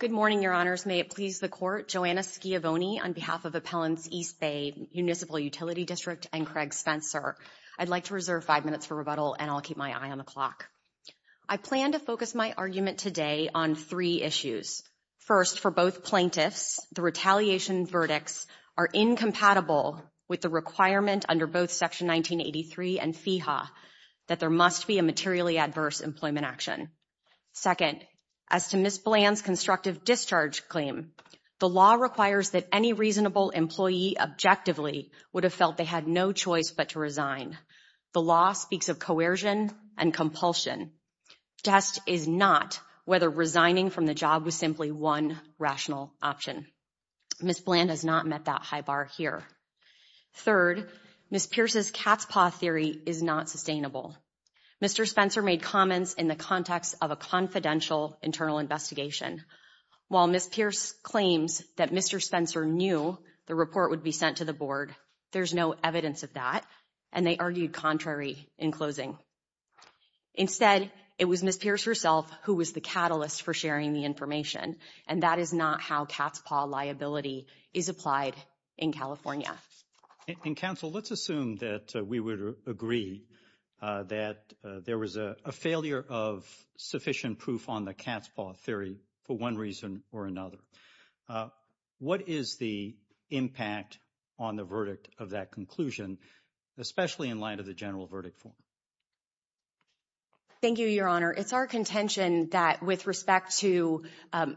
Good morning, Your Honors. May it please the Court, Joanna Schiavone on behalf of Appellants East Bay Municipal Utility District and Craig Spencer. I'd like to reserve five minutes for rebuttal and I'll keep my eye on the clock. I plan to focus my argument today on three issues. First, for both plaintiffs, the retaliation verdicts are incompatible with the requirement under both Section 1983 and FEHA that there must be a materially adverse employment action. Second, as to Ms. Bland's constructive discharge claim, the law requires that any reasonable employee objectively would have felt they had no choice but to resign. The law speaks of coercion and compulsion. Test is not whether resigning from the job was simply one rational option. Ms. Bland has not met that high bar here. Third, Ms. Pierce's cat's paw theory is not sustainable. Mr. Spencer made comments in the context of a confidential internal investigation. While Ms. Pierce claims that Mr. Spencer knew the report would be sent to the board, there's no evidence of that and they argued contrary in closing. Instead, it was Ms. Pierce herself who was the catalyst for sharing the information and that is not how cat's paw liability is applied in California. And counsel, let's assume that we would agree that there was a failure of sufficient proof on the cat's paw theory for one reason or another. What is the impact on the verdict of that conclusion, especially in light of the general verdict form? Thank you, Your Honor. It's our contention that with respect to,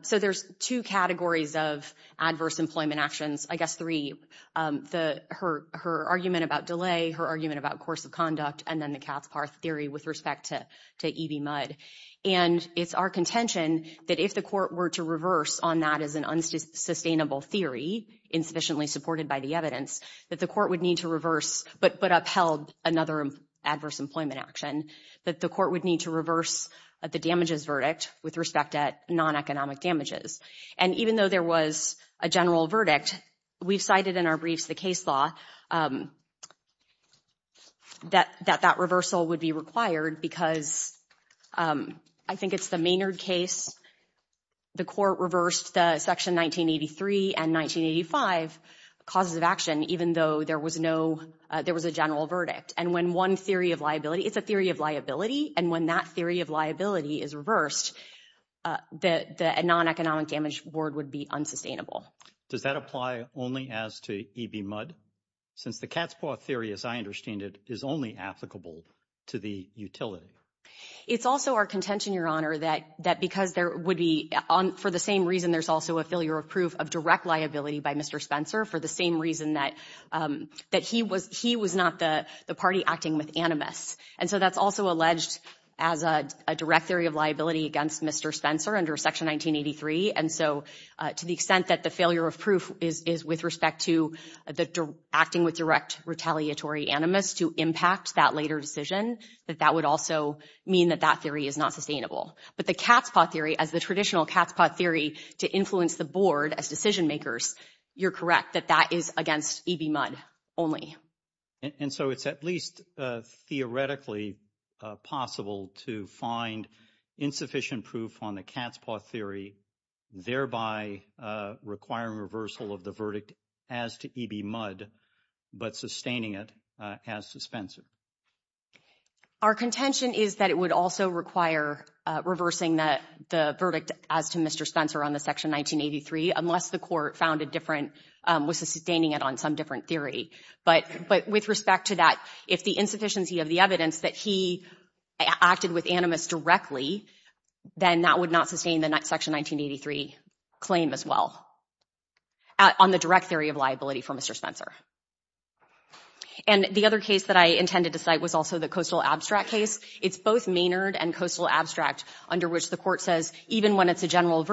so there's two categories of adverse employment actions, I guess three, her argument about delay, her argument about course of conduct, and then the cat's paw theory with respect to EB Mudd. And it's our contention that if the court were to reverse on that as an unsustainable theory insufficiently supported by the evidence, that the court would need to reverse but upheld another adverse employment action, that the court would need to reverse the damages verdict with respect at non-economic damages. And even though there was a general verdict, we've cited in our briefs the case law that that reversal would be required because I think it's the Maynard case, the court reversed the section 1983 and 1985 causes of action even though there was no, there was a general verdict. And when one theory of liability, it's a theory of liability, and when that theory of liability is reversed, the non-economic damage board would be unsustainable. Does that apply only as to EB Mudd? Since the cat's paw theory, as I understand it, is only applicable to the utility. It's also our contention, Your Honor, that because there would be, for the same reason there's also a failure of proof of direct liability by Mr. Spencer for the same reason that he was not the party acting with animus. And so that's also alleged as a direct theory of liability against Mr. Spencer under Section 1983. And so to the extent that the failure of proof is with respect to the acting with direct retaliatory animus to impact that later decision, that that would also mean that that theory is not sustainable. But the cat's paw theory, as the traditional cat's paw theory to influence the board as decision makers, you're correct that that is against EB Mudd only. And so it's at least theoretically possible to find insufficient proof on the cat's paw theory, thereby requiring reversal of the verdict as to EB Mudd, but sustaining it as to Spencer? Our contention is that it would also require reversing the verdict as to Mr. Spencer on the Section 1983 unless the court found a different, was sustaining it on some different theory. But with respect to that, if the insufficiency of the evidence that he acted with animus directly, then that would not sustain the Section 1983 claim as well on the direct theory of liability for Mr. Spencer. And the other case that I intended to cite was also the Coastal Abstract case. It's both Maynard and Coastal Abstract under which the court says, even when it's a general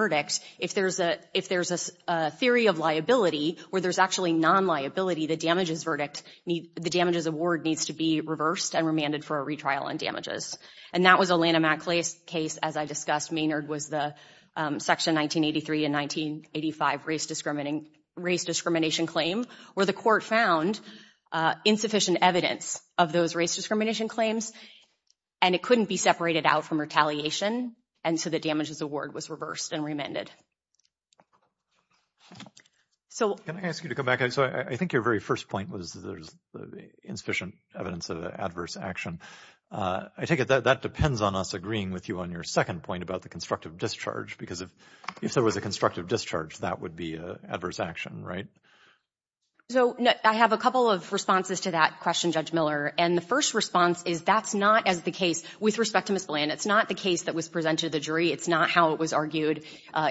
liability, where there's actually non-liability, the damages verdict, the damages award needs to be reversed and remanded for a retrial on damages. And that was a Lanham-Atclay case, as I discussed, Maynard was the Section 1983 and 1985 race discrimination claim where the court found insufficient evidence of those race discrimination claims and it couldn't be separated out from retaliation, and so the damages award was reversed and remanded. So can I ask you to come back? So I think your very first point was there's insufficient evidence of adverse action. I take it that that depends on us agreeing with you on your second point about the constructive discharge because if there was a constructive discharge, that would be adverse action, right? So I have a couple of responses to that question, Judge Miller, and the first response is that's not as the case with respect to Ms. Bland. It's not the case that was presented to the jury. It's not how it was argued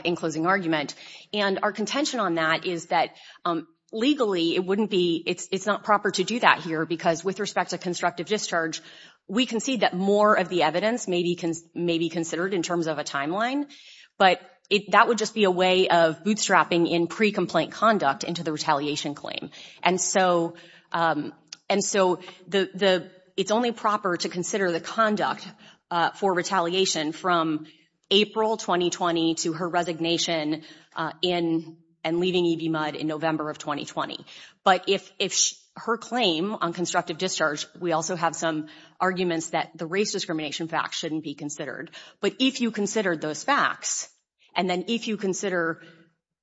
in closing argument. And our contention on that is that legally, it's not proper to do that here because with respect to constructive discharge, we concede that more of the evidence may be considered in terms of a timeline, but that would just be a way of bootstrapping in pre-complaint conduct into the retaliation claim. And so it's only proper to consider the conduct for retaliation from April 2020 to her resignation and leaving EVMUD in November of 2020. But if her claim on constructive discharge, we also have some arguments that the race discrimination facts shouldn't be considered. But if you consider those facts, and then if you consider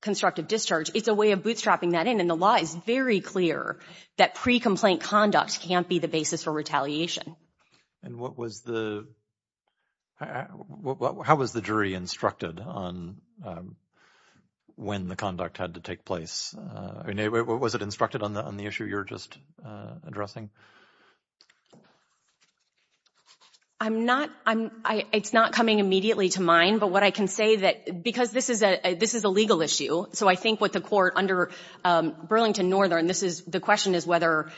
constructive discharge, it's a way of bootstrapping that in. And the law is very clear that pre-complaint conduct can't be the basis for retaliation. And what was the, how was the jury instructed on when the conduct had to take place? Was it instructed on the issue you're just addressing? I'm not, it's not coming immediately to mind, but what I can say that because this is a legal issue. So I think what the court under Burlington Northern, this is, the question is whether,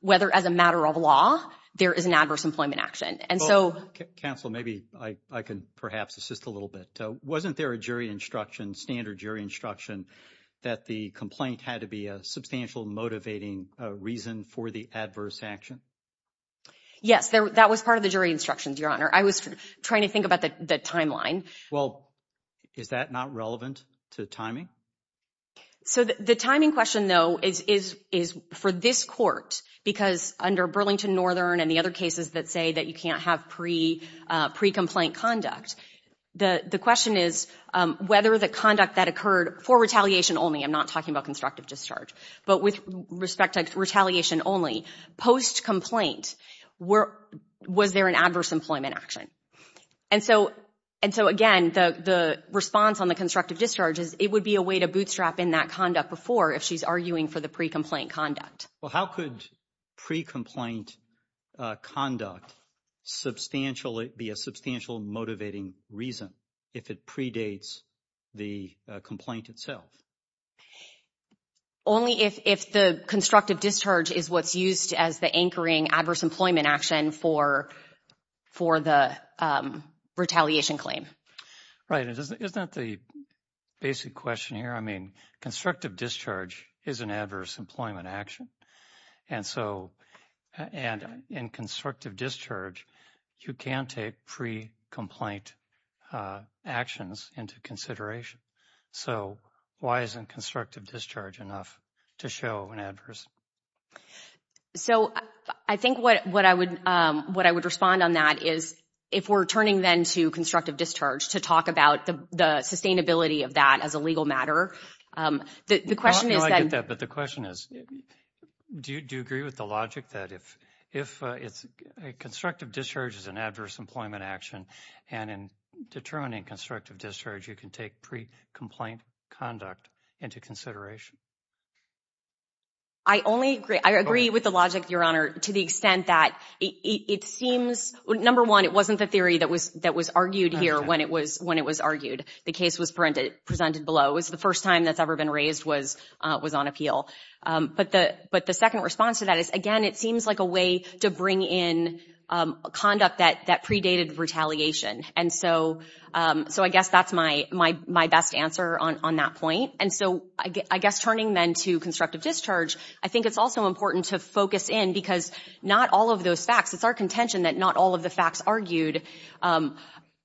whether as a matter of law, there is an adverse employment action. And so. Counsel, maybe I can perhaps assist a little bit. Wasn't there a jury instruction, standard jury instruction that the complaint had to be a substantial motivating reason for the adverse action? Yes, that was part of the jury instructions, Your Honor. I was trying to think about the timeline. Well, is that not relevant to timing? So the timing question, though, is for this court, because under Burlington Northern and the other cases that say that you can't have pre-complaint conduct, the question is whether the conduct that occurred for retaliation only, I'm not talking about constructive discharge, but with respect to retaliation only, post-complaint, was there an adverse employment action? And so, and so again, the response on the constructive discharge is it would be a way to bootstrap in that conduct before if she's arguing for the pre-complaint conduct. Well, how could pre-complaint conduct substantially be a substantial motivating reason if it predates the complaint itself? Only if, if the constructive discharge is what's used as the anchoring adverse employment action for, for the retaliation claim. Right. Isn't that the basic question here? I mean, constructive discharge is an adverse employment action. And so, and in constructive discharge, you can take pre-complaint actions into consideration. So why isn't constructive discharge enough to show an adverse? So, I think what I would, what I would respond on that is if we're turning then to constructive discharge to talk about the sustainability of that as a legal matter, the question is that... No, I get that. But the question is, do you agree with the logic that if, if it's a constructive discharge is an adverse employment action, and in determining constructive discharge, you can take pre-complaint conduct into consideration? I only agree, I agree with the logic, your honor, to the extent that it seems, number one, it wasn't the theory that was, that was argued here when it was, when it was argued. The case was presented, presented below. It was the first time that's ever been raised was, was on appeal. But the, but the second response to that is, again, it seems like a way to bring in conduct that, that predated retaliation. And so, so I guess that's my, my, my best answer on, on that point. And so I guess turning then to constructive discharge, I think it's also important to focus in because not all of those facts, it's our contention that not all of the facts argued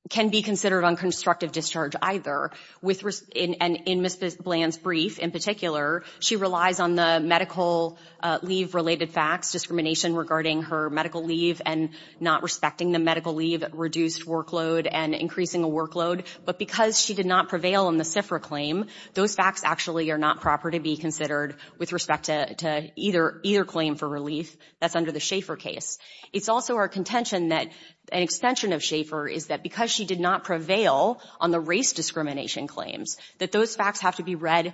can be considered on constructive discharge either. With respect, and in Ms. Bland's brief, in particular, she relies on the medical leave related facts, discrimination regarding her medical leave and not respecting the medical leave reduced workload and increasing a workload. But because she did not prevail on the CFRA claim, those facts actually are not proper to be considered with respect to, to either, either claim for relief that's under the Schaeffer case. It's also our contention that an extension of Schaeffer is that because she did not prevail on the race discrimination claims, that those facts have to be read,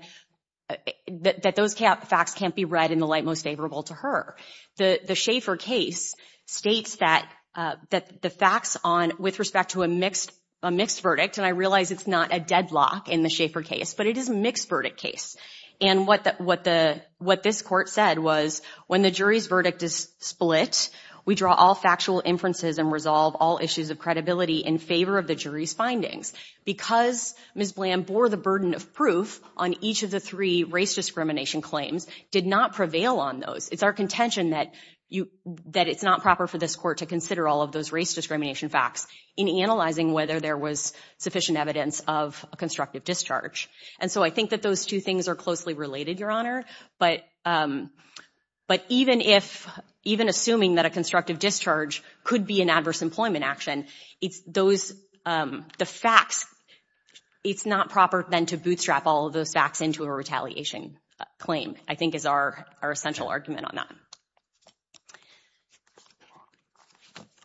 that those facts can't be read in the light most favorable to her. The, the Schaeffer case states that, that the facts on, with respect to a mixed, a mixed verdict, and I realize it's not a deadlock in the Schaeffer case, but it is a mixed verdict case. And what the, what the, what this court said was when the jury's verdict is split, we draw all factual inferences and resolve all issues of credibility in favor of the jury's findings. Because Ms. Bland bore the burden of proof on each of the three race discrimination claims, did not prevail on those. It's our contention that you, that it's not proper for this court to consider all of those race discrimination facts in analyzing whether there was sufficient evidence of a constructive discharge. And so I think that those two things are closely related, Your Honor, but, but even if, even assuming that a constructive discharge could be an adverse employment action, it's those, the facts, it's not proper then to bootstrap all of those facts into a retaliation claim, I think is our, our essential argument on that.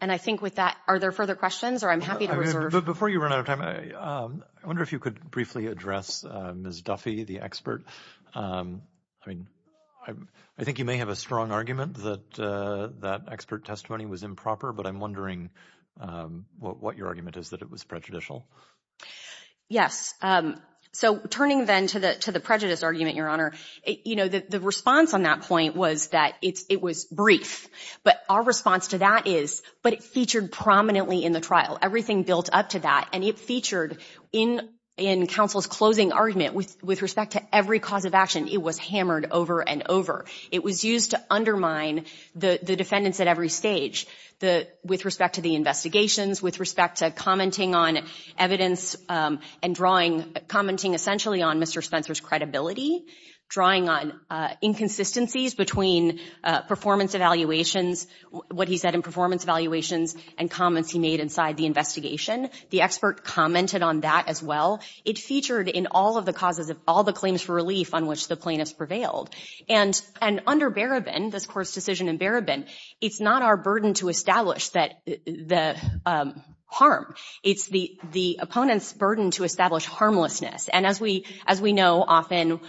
And I think with that, are there further questions or I'm happy to reserve. Before you run out of time, I wonder if you could briefly address Ms. Duffy, the expert. I mean, I think you may have a strong argument that that expert testimony was improper, but I'm wondering what your argument is that it was prejudicial. Yes. So turning then to the, to the prejudice argument, Your Honor, you know, the, the response on that point was that it's, it was brief, but our response to that is, but it featured prominently in the trial. Everything built up to that and it featured in, in counsel's closing argument with, with respect to every cause of action, it was hammered over and over. It was used to undermine the, the defendants at every stage, the, with respect to the investigations, with respect to commenting on evidence and drawing, commenting essentially on Mr. Spencer's credibility, drawing on inconsistencies between performance evaluations, what he said in performance evaluations and comments he made inside the investigation. The expert commented on that as well. It featured in all of the causes of all the claims for relief on which the plaintiffs prevailed. And, and under Barabin, this court's decision in Barabin, it's not our burden to establish that the harm, it's the, the opponent's burden to establish harmlessness. And as we, as we know, often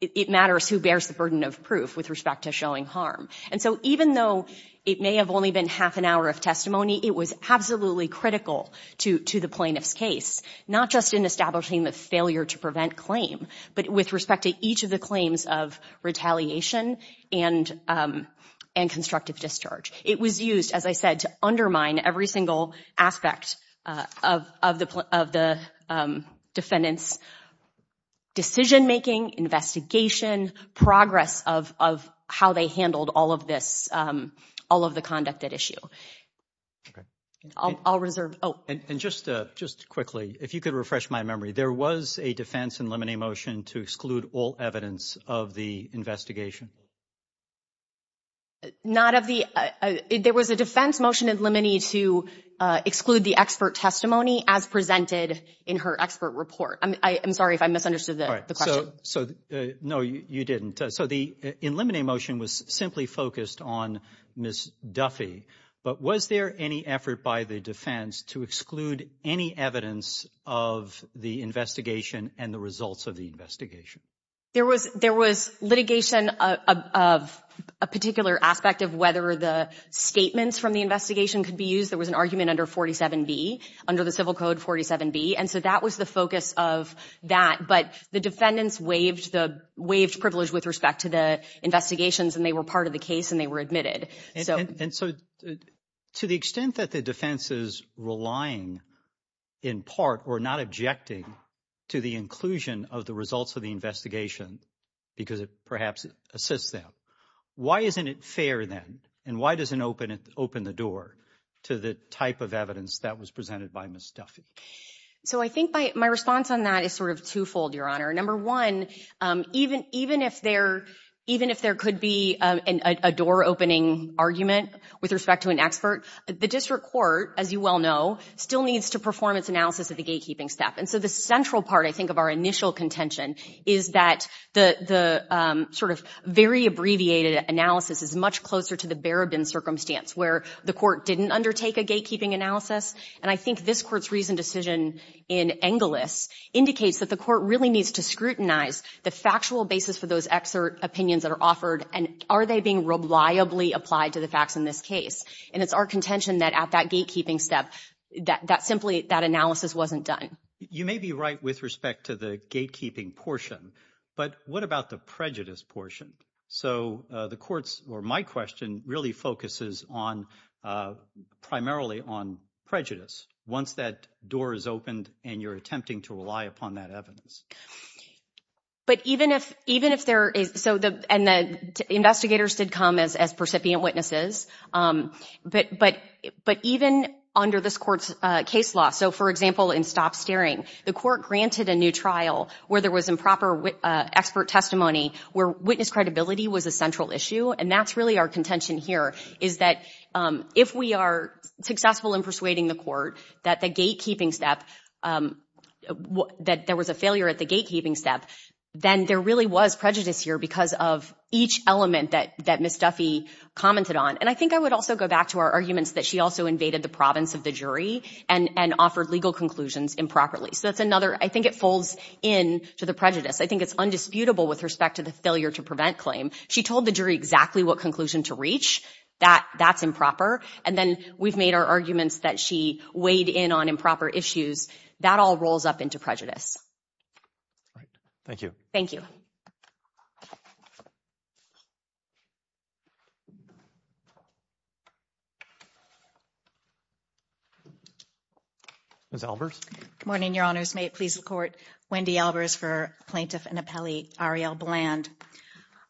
it matters who bears the burden of proof with respect to showing harm. And so even though it may have only been half an hour of testimony, it was absolutely critical to, to the plaintiff's case, not just in establishing the failure to prevent claim, but with respect to each of the claims of retaliation and, and constructive discharge. It was used, as I said, to undermine every single aspect of, of the, of the defendant's decision-making, investigation, progress of, of how they handled all of this, all of the conduct at issue. Okay. I'll, I'll reserve. Oh. And, and just, just quickly, if you could refresh my memory, there was a defense in limine motion to exclude all evidence of the investigation. Not of the, there was a defense motion in limine to exclude the expert testimony as presented in her expert report. I'm, I am sorry if I misunderstood the question. So no, you didn't. So the in limine motion was simply focused on Ms. Duffy, but was there any effort by the defense to exclude any evidence of the investigation and the results of the investigation? There was, there was litigation of, of a particular aspect of whether the statements from the investigation could be used. There was an argument under 47B, under the civil code 47B. And so that was the focus of that. But the defendants waived the, waived privilege with respect to the investigations and they were part of the case and they were admitted. And so to the extent that the defense is relying in part or not objecting to the inclusion of the results of the investigation, because it perhaps assists them. Why isn't it fair then? And why doesn't it open the door to the type of evidence that was presented by Ms. Duffy? So I think my response on that is sort of twofold, Your Honor. Number one, even, even if there, even if there could be a door opening argument with respect to an expert, the district court, as you well know, still needs to perform its analysis of the gatekeeping step. And so the central part, I think, of our initial contention is that the, the sort of very abbreviated analysis is much closer to the Barabin circumstance where the court didn't undertake a gatekeeping analysis. And I think this court's reasoned decision in Engelis indicates that the court really needs to scrutinize the factual basis for those excerpt opinions that are offered. And are they being reliably applied to the facts in this case? And it's our contention that at that gatekeeping step, that, that simply, that analysis wasn't done. You may be right with respect to the gatekeeping portion, but what about the prejudice portion? So the court's, or my question really focuses on, primarily on prejudice once that door is opened and you're attempting to rely upon that evidence. But even if, even if there is, so the, and the investigators did come as, as percipient witnesses, but, but, but even under this court's case law. So for example, in Stop Staring, the court granted a new trial where there was improper expert testimony, where witness credibility was a central issue. And that's really our contention here is that if we are successful in persuading the court that the gatekeeping step, that there was a failure at the gatekeeping step, then there really was prejudice here because of each element that, that Ms. Duffy commented on. And I think I would also go back to our arguments that she also invaded the province of the jury and, and offered legal conclusions improperly. So that's another, I think it folds in to the prejudice. I think it's undisputable with respect to the failure to prevent claim. She told the jury exactly what conclusion to reach, that, that's improper. And then we've made our arguments that she weighed in on improper issues, that all rolls up into prejudice. All right. Thank you. Thank you. Ms. Albers. Good morning, your honors. May it please the court, Wendy Albers for plaintiff and appellee Arielle Bland.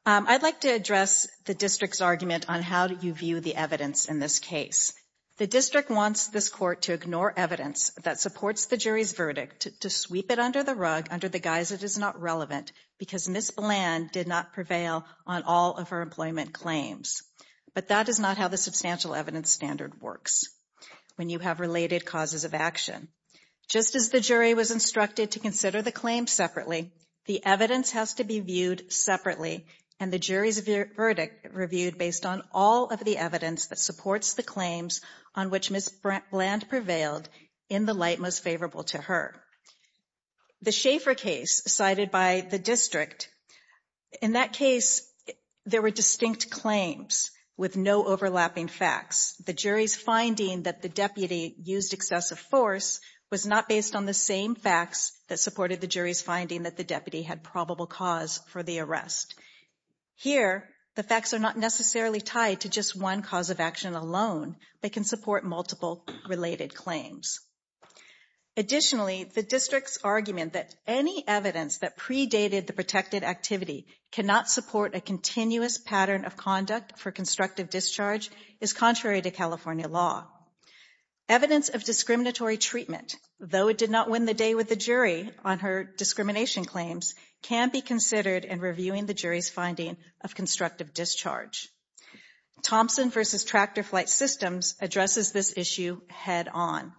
I'd like to address the district's argument on how you view the evidence in this case. The district wants this court to ignore evidence that supports the jury's verdict, to sweep it under the rug, under the guise it is not relevant because Ms. Bland did not prevail on all of her employment claims. But that is not how the substantial evidence standard works. When you have related causes of action, just as the jury was instructed to consider the claim separately, the evidence has to be viewed separately and the jury's verdict reviewed based on all of the evidence that supports the claims on which Ms. Bland prevailed in the light most favorable to her. The Schaefer case cited by the district, in that case there were distinct claims with no overlapping facts. The jury's finding that the deputy used excessive force was not based on the same facts that supported the jury's finding that the deputy had probable cause for the arrest. Here the facts are not necessarily tied to just one cause of action alone, but can support multiple related claims. Additionally, the district's argument that any evidence that predated the protected activity cannot support a continuous pattern of conduct for constructive discharge is contrary to California law. Evidence of discriminatory treatment, though it did not win the day with the jury on her discrimination claims, can be considered in reviewing the jury's finding of constructive discharge. Thompson v. Tractor Flight Systems addresses this issue head-on.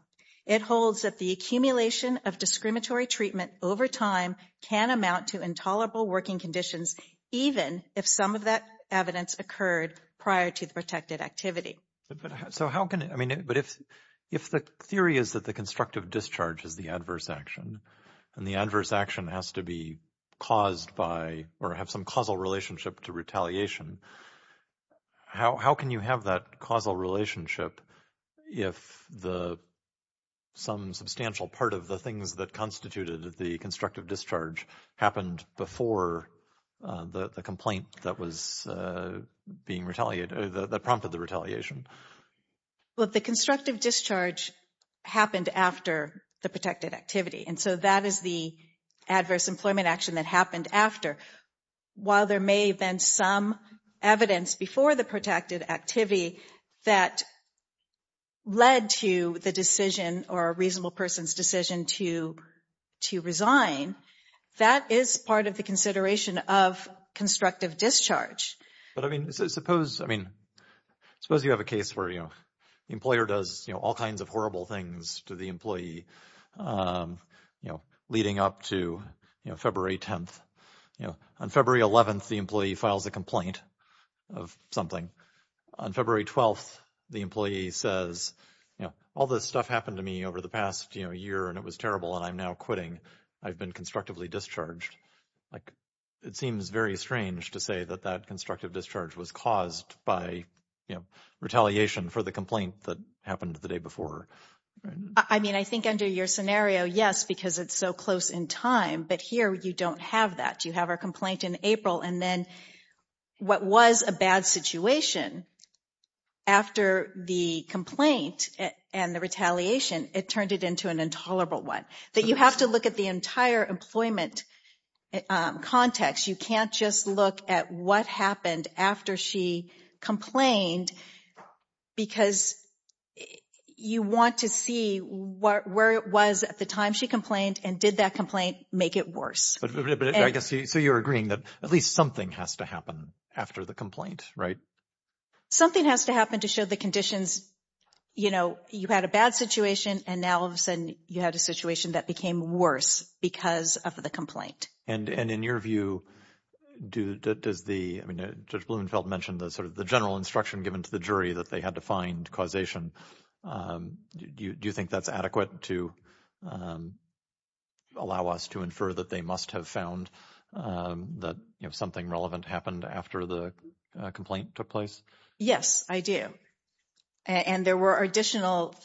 It holds that the accumulation of discriminatory treatment over time can amount to intolerable working conditions even if some of that evidence occurred prior to the protected activity. But, so how can, I mean, but if the theory is that the constructive discharge is the adverse action and the adverse action has to be caused by or have some causal relationship to retaliation, how can you have that causal relationship if some substantial part of the things that constituted the constructive discharge happened before the complaint that was being retaliated, that prompted the retaliation? Well, the constructive discharge happened after the protected activity, and so that is the adverse employment action that happened after. While there may have been some evidence before the protected activity that led to the decision or a reasonable person's decision to resign, that is part of the consideration of constructive discharge. But, I mean, suppose, I mean, suppose you have a case where, you know, the employer does, you know, all kinds of horrible things to the employee, you know, leading up to, you know, February 10th. You know, on February 11th, the employee files a complaint of something. On February 12th, the employee says, you know, all this stuff happened to me over the past, you know, year, and it was terrible, and I'm now quitting. I've been constructively discharged. Like, it seems very strange to say that that constructive discharge was caused by, you know, retaliation for the complaint that happened the day before. I mean, I think under your scenario, yes, because it's so close in time, but here you don't have that. You have a complaint in April, and then what was a bad situation, after the complaint and the retaliation, it turned it into an intolerable one. That you have to look at the entire employment context. You can't just look at what happened after she complained, because you want to see where it was at the time she complained, and did that complaint make it worse. But I guess, so you're agreeing that at least something has to happen after the complaint, right? Something has to happen to show the conditions, you know, you had a bad situation, and now all of a sudden, you had a situation that became worse because of the complaint. And in your view, does the, I mean, Judge Blumenfeld mentioned the sort of the general instruction given to the jury that they had to find causation. Do you think that's adequate to allow us to infer that they must have found that something relevant happened after the complaint took place? Yes, I do. And there were additional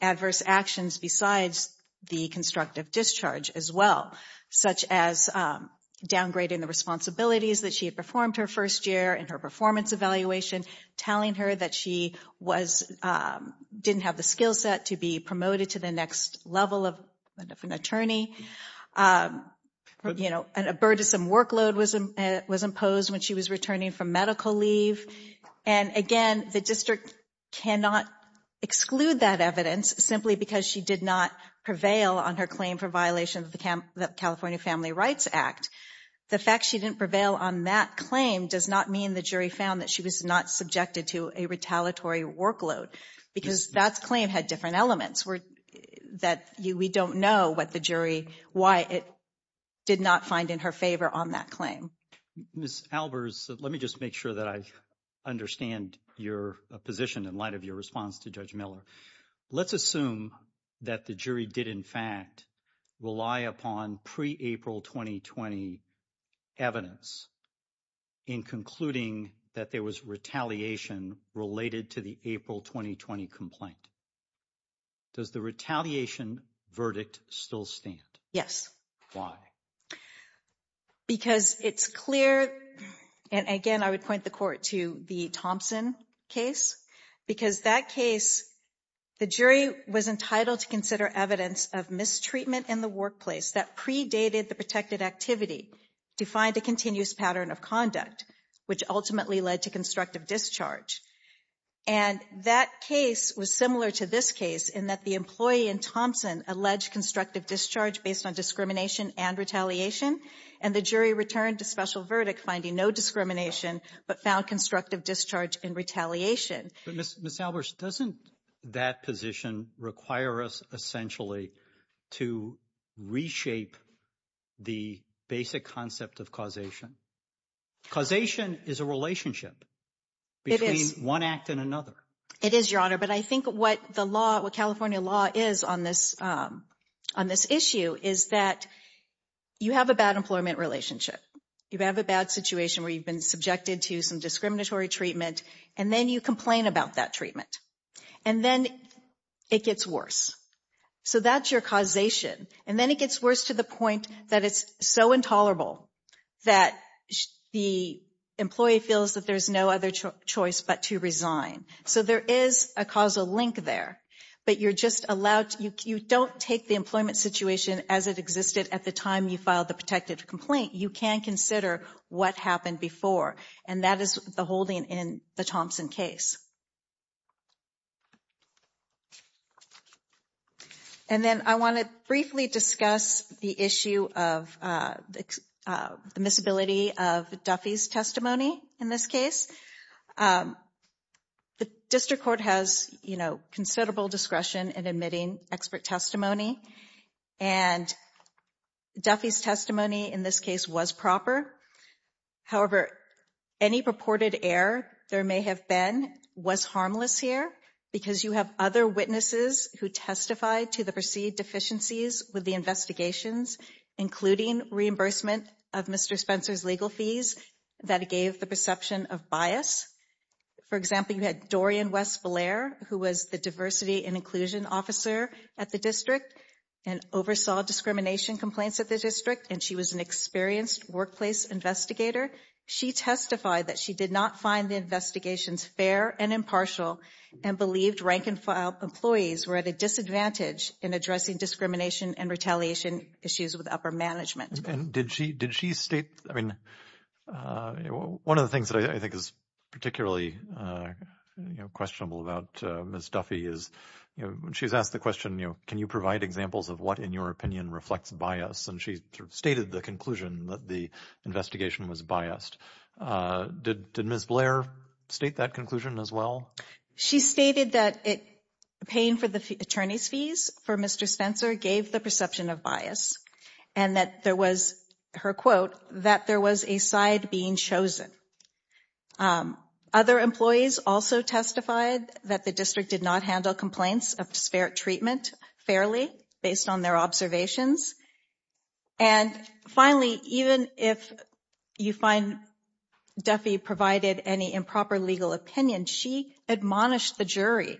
adverse actions besides the constructive discharge as well, such as downgrading the responsibilities that she had performed her first year in her performance evaluation, telling her that she was, didn't have the skill set to be promoted to the next level of an attorney. You know, an abertus and workload was imposed when she was returning from medical leave. And again, the district cannot exclude that evidence, simply because she did not prevail on her claim for violation of the California Family Rights Act. The fact she didn't prevail on that claim does not mean the jury found that she was not subjected to a retaliatory workload, because that claim had different elements that we don't know what the jury, why it did not find in her favor on that claim. Ms. Albers, let me just make sure that I understand your position in light of your response to Judge Miller. Let's assume that the jury did, in fact, rely upon pre-April 2020 evidence in concluding that there was retaliation related to the April 2020 complaint. Does the retaliation verdict still stand? Yes. Why? Because it's clear, and again, I would point the court to the Thompson case, because that case, the jury was entitled to consider evidence of mistreatment in the workplace that predated the protected activity to find a continuous pattern of conduct, which ultimately led to constructive discharge. And that case was similar to this case in that the employee in Thompson alleged constructive discharge based on discrimination and retaliation, and the jury returned to special verdict finding no discrimination, but found constructive discharge and retaliation. Ms. Albers, doesn't that position require us essentially to reshape the basic concept of causation? Causation is a relationship between one act and another. It is, Your Honor. But I think what the law, what California law is on this issue is that you have a bad employment relationship. You have a bad situation where you've been subjected to some discriminatory treatment, and then you complain about that treatment. And then it gets worse. So that's your causation. And then it gets worse to the point that it's so intolerable that the employee feels that there's no other choice but to resign. So there is a causal link there, but you're just allowed, you don't take the employment situation as it existed at the time you filed the protected complaint. You can consider what happened before, and that is the holding in the Thompson case. And then I want to briefly discuss the issue of the misability of Duffy's testimony in this case. The district court has considerable discretion in admitting expert testimony, and Duffy's testimony in this case was proper. However, any purported error there may have been was harmless here because you have other witnesses who testified to the perceived deficiencies with the investigations, including reimbursement of Mr. Spencer's legal fees that gave the perception of bias. For example, you had Dorian West Blair, who was the diversity and inclusion officer at the district and oversaw discrimination complaints at the district, and she was an experienced workplace investigator. She testified that she did not find the investigations fair and impartial and believed rank and file employees were at a disadvantage in addressing discrimination and retaliation issues with upper management. And did she state, I mean, one of the things that I think is particularly questionable about Ms. Duffy is, you know, she's asked the question, you know, can you provide examples of what, in your opinion, reflects bias? And she stated the conclusion that the investigation was biased. Did Ms. Blair state that conclusion as well? She stated that paying for the attorney's fees for Mr. Spencer gave the perception of bias and that there was, her quote, that there was a side being chosen. Other employees also testified that the district did not handle complaints of disparate treatment fairly based on their observations. And finally, even if you find Duffy provided any improper legal opinion, she admonished the jury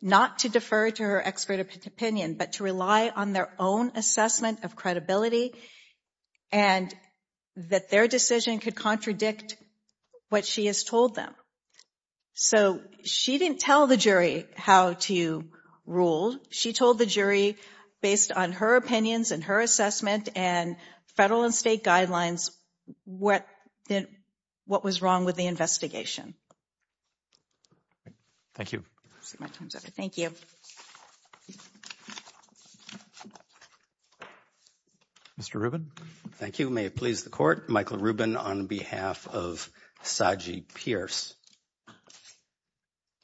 not to defer to her expert opinion, but to rely on their own assessment of credibility and that their decision could contradict what she has told them. So she didn't tell the jury how to rule. She told the jury, based on her opinions and her assessment and federal and state guidelines, what was wrong with the investigation. Thank you. Thank you. Mr. Rubin. Thank you. May it please the court. Michael Rubin on behalf of Saji Pierce.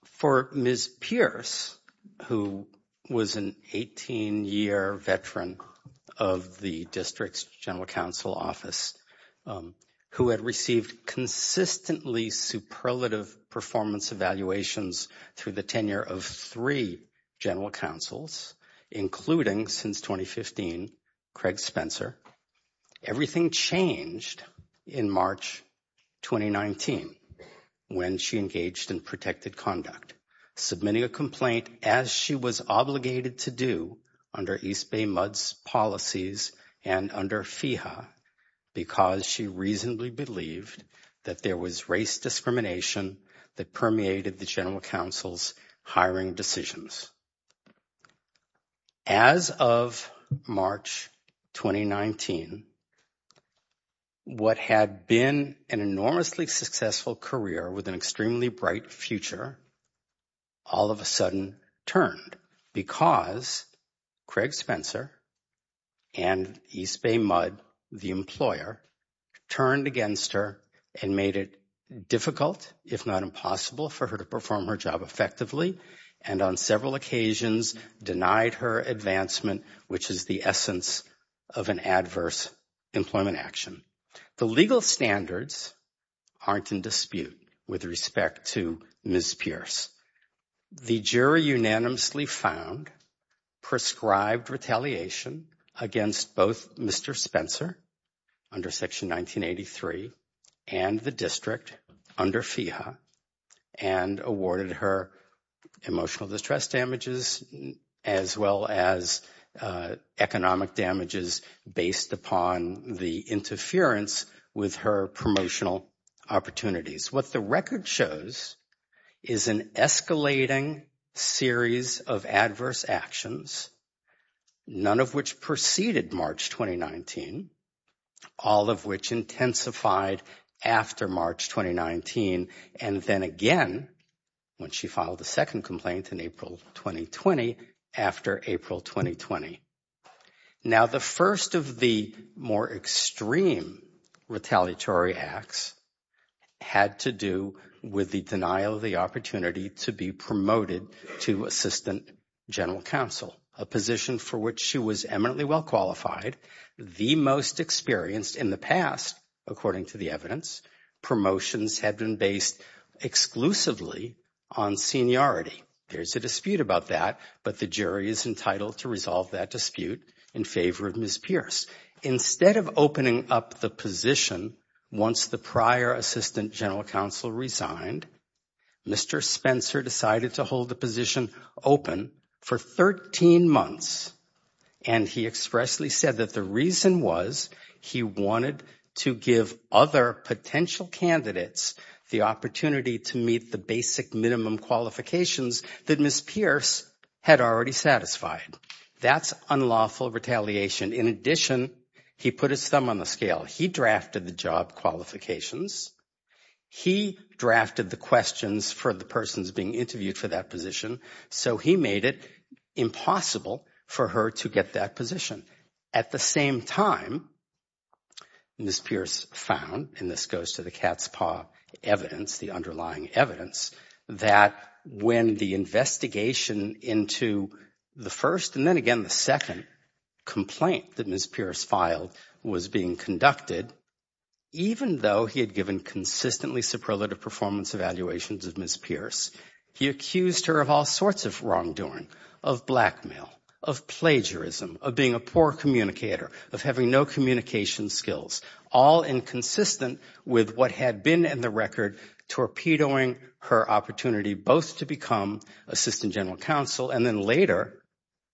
For Ms. Pierce, who was an 18-year veteran of the district's general counsel office, who had received consistently superlative performance evaluations through the tenure of three general counsels, including, since 2015, Craig Spencer, everything changed in March 2019 when she engaged in protected conduct, submitting a complaint as she was obligated to do under East Bay Mudd's policies and under FEHA because she reasonably believed that there was race discrimination that permeated the general counsel's hiring decisions. As of March 2019, what had been an enormously successful career with an extremely bright future all of a sudden turned because Craig Spencer and East Bay Mudd, the employer, turned against her and made it difficult, if not impossible, for her to perform her job effectively and on several occasions denied her advancement, which is the essence of an adverse employment action. The legal standards aren't in dispute with respect to Ms. Pierce. The jury unanimously found prescribed retaliation against both Mr. Spencer under Section 1983 and the district under FEHA and awarded her emotional distress damages as well as economic damages based upon the interference with her promotional opportunities. What the record shows is an escalating series of adverse actions, none of which preceded March 2019, all of which intensified after March 2019 and then again when she filed the complaint in April 2020 after April 2020. Now the first of the more extreme retaliatory acts had to do with the denial of the opportunity to be promoted to assistant general counsel, a position for which she was eminently well-qualified, the most experienced in the past, according to the evidence. Promotions have been based exclusively on seniority. There's a dispute about that, but the jury is entitled to resolve that dispute in favor of Ms. Pierce. Instead of opening up the position once the prior assistant general counsel resigned, Mr. Spencer decided to hold the position open for 13 months and he expressly said that the reason was he wanted to give other potential candidates the opportunity to meet the basic minimum qualifications that Ms. Pierce had already satisfied. That's unlawful retaliation. In addition, he put his thumb on the scale. He drafted the job qualifications. He drafted the questions for the persons being interviewed for that position. So he made it impossible for her to get that position. At the same time, Ms. Pierce found, and this goes to the cat's paw evidence, the underlying evidence, that when the investigation into the first and then again the second complaint that Ms. Pierce filed was being conducted, even though he had given consistently superlative performance evaluations of Ms. Pierce, he accused her of all sorts of wrongdoing, of blackmail, of plagiarism, of being a poor communicator, of having no communication skills, all inconsistent with what had been in the record torpedoing her opportunity both to become assistant general counsel and then later,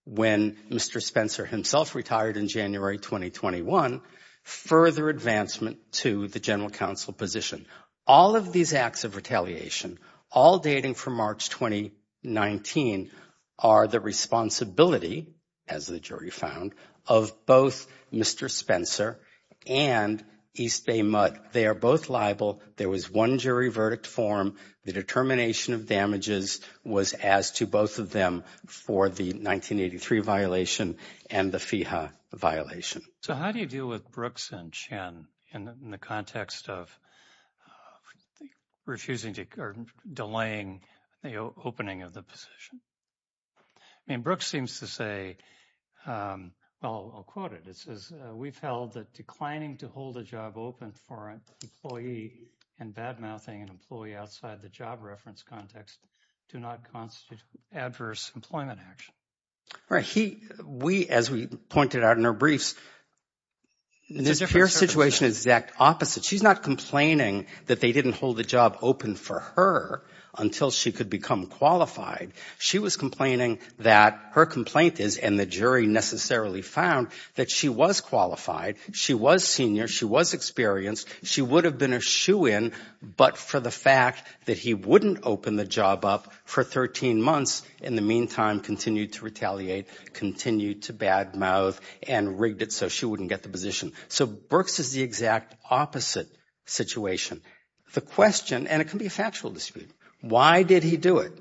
when Mr. Spencer himself retired in January 2021, further advancement to the general counsel position. All of these acts of retaliation, all dating from March 2019, are the responsibility, as the jury found, of both Mr. Spencer and East Bay Mudd. They are both liable. There was one jury verdict form. The determination of damages was as to both of them for the 1983 violation and the FEHA violation. So how do you deal with Brooks and Chen in the context of refusing or delaying the opening of the position? I mean, Brooks seems to say, well, I'll quote it, it says, we've held that declining to hold a job open for an employee and badmouthing an employee outside the job reference context do not constitute adverse employment action. Right. He, we, as we pointed out in our briefs, Ms. Pierce's situation is the exact opposite. She's not complaining that they didn't hold the job open for her until she could become qualified. She was complaining that her complaint is, and the jury necessarily found, that she was qualified, she was senior, she was experienced, she would have been a shoe-in, but for the fact that he wouldn't open the job up for 13 months, in the meantime, continued to retaliate, continued to badmouth, and rigged it so she wouldn't get the position. So Brooks is the exact opposite situation. The question, and it can be a factual dispute, why did he do it?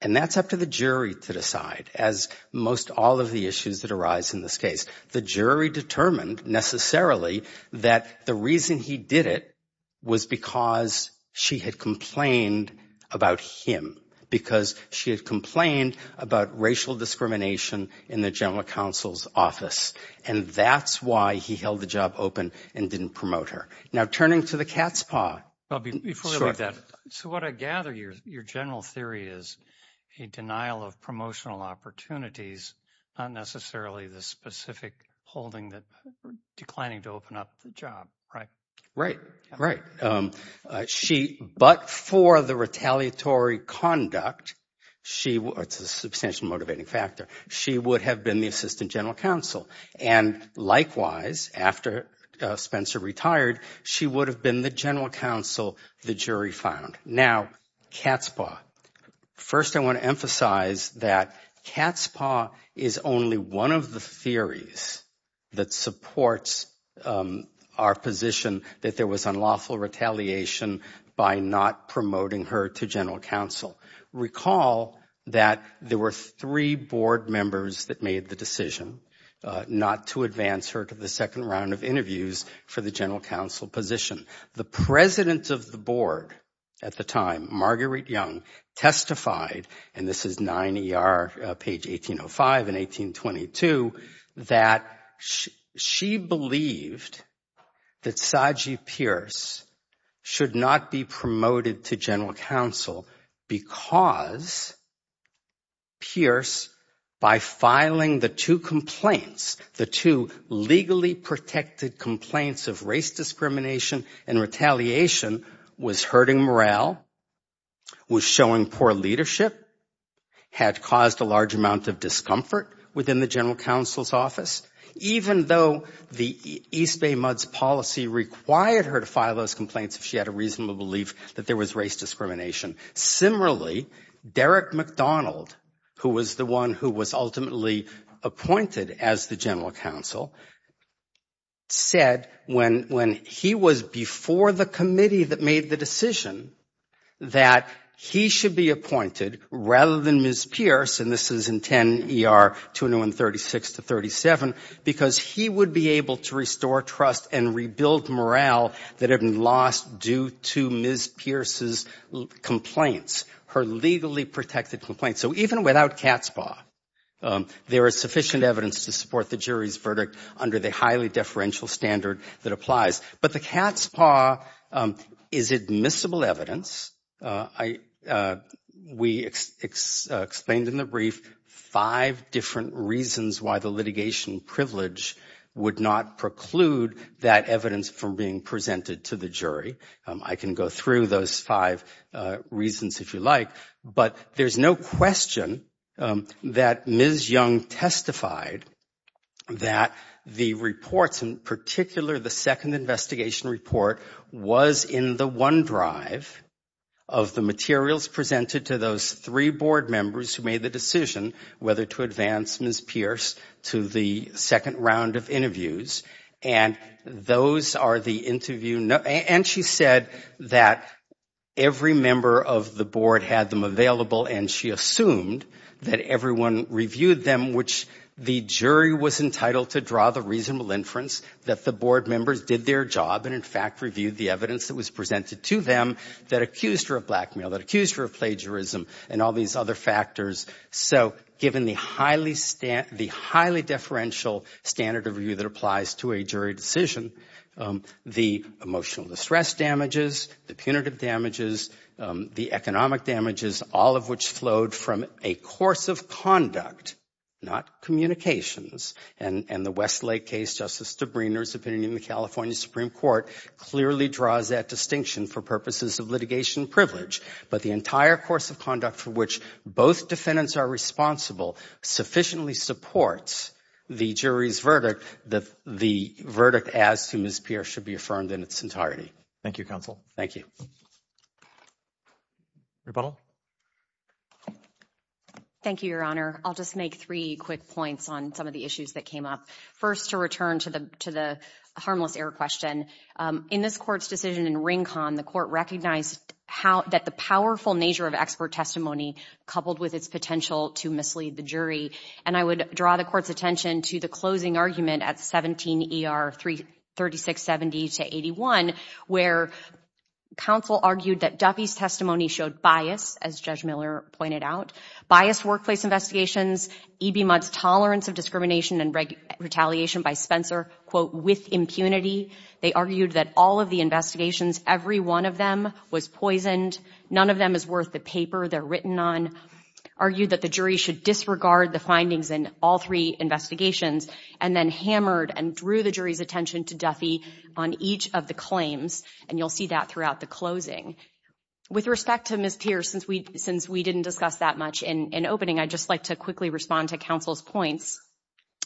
And that's up to the jury to decide, as most all of the issues that arise in this case. The jury determined, necessarily, that the reason he did it was because she had complained about him. Because she had complained about racial discrimination in the general counsel's office. And that's why he held the job open and didn't promote her. Now turning to the cat's paw. Well, before we leave that, so what I gather, your general theory is a denial of promotional opportunities, not necessarily the specific holding that declining to open up the job, right? Right, right. But for the retaliatory conduct, it's a substantial motivating factor, she would have been the assistant general counsel. And likewise, after Spencer retired, she would have been the general counsel the jury found. Now, cat's paw. First, I want to emphasize that cat's paw is only one of the theories that supports our position that there was unlawful retaliation by not promoting her to general counsel. Recall that there were three board members that made the decision not to advance her to the second round of interviews for the general counsel position. The president of the board at the time, Marguerite Young, testified, and this is 9ER, page 1805 and 1822, that she believed that Sagi Pierce should not be promoted to general counsel because Pierce, by filing the two complaints, the two legally protected complaints of race discrimination and retaliation was hurting morale, was showing poor leadership, had caused a large amount of discomfort within the general counsel's office, even though the East Bay MUDS policy required her to file those complaints if she had a reasonable belief that there was race discrimination. Similarly, Derek McDonald, who was the one who was ultimately appointed as the general counsel, said when he was before the committee that made the decision that he should be appointed rather than Ms. Pierce, and this is in 10ER, 201-36-37, because he would be able to restore trust and rebuild morale that had been lost due to Ms. Pierce's complaints, her legally protected complaints. So even without cat's paw, there is sufficient evidence to support the jury's verdict under the highly deferential standard that applies. But the cat's paw is admissible evidence. We explained in the brief five different reasons why the litigation privilege would not preclude that evidence from being presented to the jury. I can go through those five reasons if you like, but there's no question that Ms. Young testified that the reports, in particular the second investigation report, was in the one drive of the materials presented to those three board members who made the decision whether to advance Ms. Pierce to the second round of interviews, and those are the interview And she said that every member of the board had them available and she assumed that everyone reviewed them, which the jury was entitled to draw the reasonable inference that the board members did their job and in fact reviewed the evidence that was presented to them that accused her of blackmail, that accused her of plagiarism, and all these other factors. So given the highly deferential standard of review that applies to a jury decision, the emotional distress damages, the punitive damages, the economic damages, all of which flowed from a course of conduct, not communications. And the Westlake case, Justice Debriner's opinion in the California Supreme Court clearly draws that distinction for purposes of litigation privilege. But the entire course of conduct for which both defendants are responsible sufficiently supports the jury's verdict that the verdict as to Ms. Pierce should be affirmed in its entirety. Thank you, Counsel. Thank you. Rebuttal. Thank you, Your Honor. I'll just make three quick points on some of the issues that came up. First, to return to the harmless error question, in this court's decision in Rincon, the court recognized that the powerful nature of expert testimony coupled with its potential to mislead the jury. And I would draw the court's attention to the closing argument at 17 E.R. 3670-81, where counsel argued that Duffy's testimony showed bias, as Judge Miller pointed out, biased workplace investigations, E.B. Mudd's tolerance of discrimination and retaliation by Spencer, quote, with impunity. They argued that all of the investigations, every one of them was poisoned, none of them was worth the paper they're written on, argued that the jury should disregard the findings in all three investigations, and then hammered and drew the jury's attention to Duffy on each of the claims. And you'll see that throughout the closing. With respect to Ms. Pierce, since we didn't discuss that much in opening, I'd just like to quickly respond to counsel's points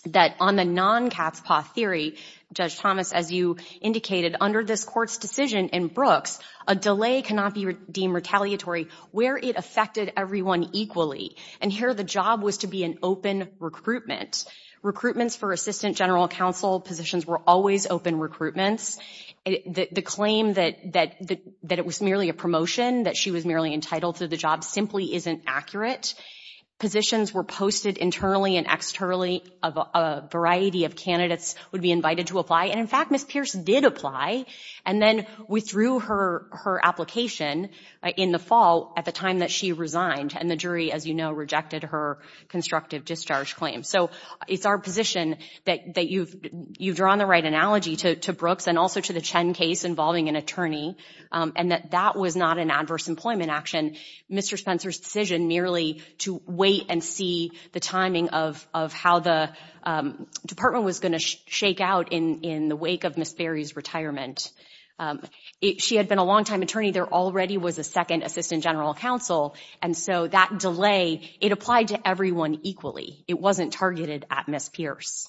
that on the non-catspaw theory, Judge Thomas, as you indicated, under this court's decision in Brooks, a delay cannot be deemed retaliatory where it affected everyone equally. And here the job was to be an open recruitment. Recruitments for assistant general counsel positions were always open recruitments. The claim that it was merely a promotion, that she was merely entitled to the job, simply isn't accurate. Positions were posted internally and externally, a variety of candidates would be invited to apply, and in fact, Ms. Pierce did apply, and then withdrew her application in the fall at the time that she resigned, and the jury, as you know, rejected her constructive discharge claim. So it's our position that you've drawn the right analogy to Brooks and also to the Chen case involving an attorney, and that that was not an adverse employment action. Mr. Spencer's decision merely to wait and see the timing of how the department was going to shake out in the wake of Ms. Berry's retirement. She had been a longtime attorney. There already was a second assistant general counsel, and so that delay, it applied to everyone equally. It wasn't targeted at Ms. Pierce.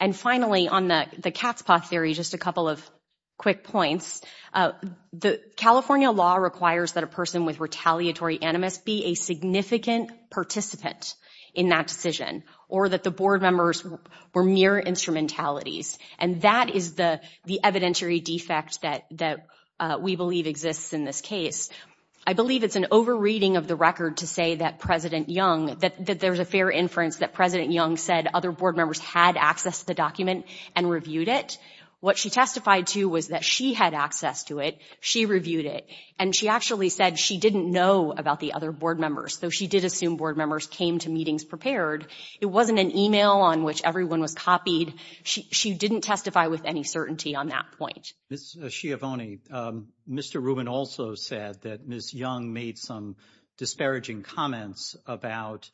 And finally, on the catspaw theory, just a couple of quick points. The California law requires that a person with retaliatory animus be a significant participant in that decision, or that the board members were mere instrumentalities, and that is the evidentiary defect that we believe exists in this case. I believe it's an over-reading of the record to say that President Young, that there's a fair inference that President Young said other board members had access to the document and reviewed it. What she testified to was that she had access to it, she reviewed it, and she actually said she didn't know about the other board members, though she did assume board members came to meetings prepared. It wasn't an email on which everyone was copied. She didn't testify with any certainty on that point. Ms. Schiavone, Mr. Rubin also said that Ms. Young made some disparaging comments about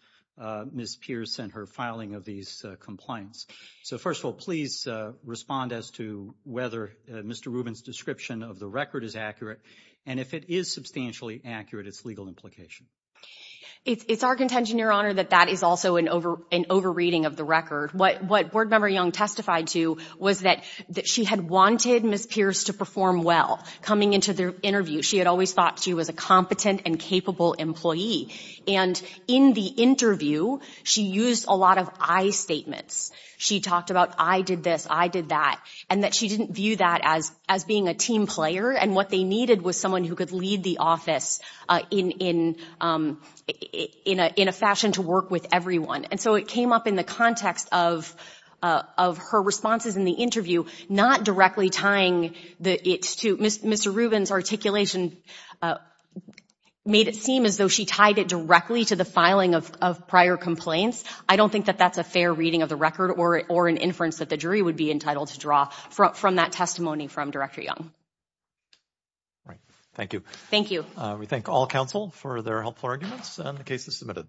Ms. Pierce and her filing of these complaints. So first of all, please respond as to whether Mr. Rubin's description of the record is accurate, and if it is substantially accurate, its legal implication. It's our contention, Your Honor, that that is also an over-reading of the record. What Board Member Young testified to was that she had wanted Ms. Pierce to perform well. Coming into the interview, she had always thought she was a competent and capable employee, and in the interview, she used a lot of I statements. She talked about I did this, I did that, and that she didn't view that as being a team player, and what they needed was someone who could lead the office in a fashion to work with everyone. And so it came up in the context of her responses in the interview, not directly tying it to Mr. Rubin's articulation made it seem as though she tied it directly to the filing of prior complaints. I don't think that that's a fair reading of the record or an inference that the jury would be entitled to draw from that testimony from Director Young. All right. Thank you. Thank you. We thank all counsel for their helpful arguments and the cases submitted.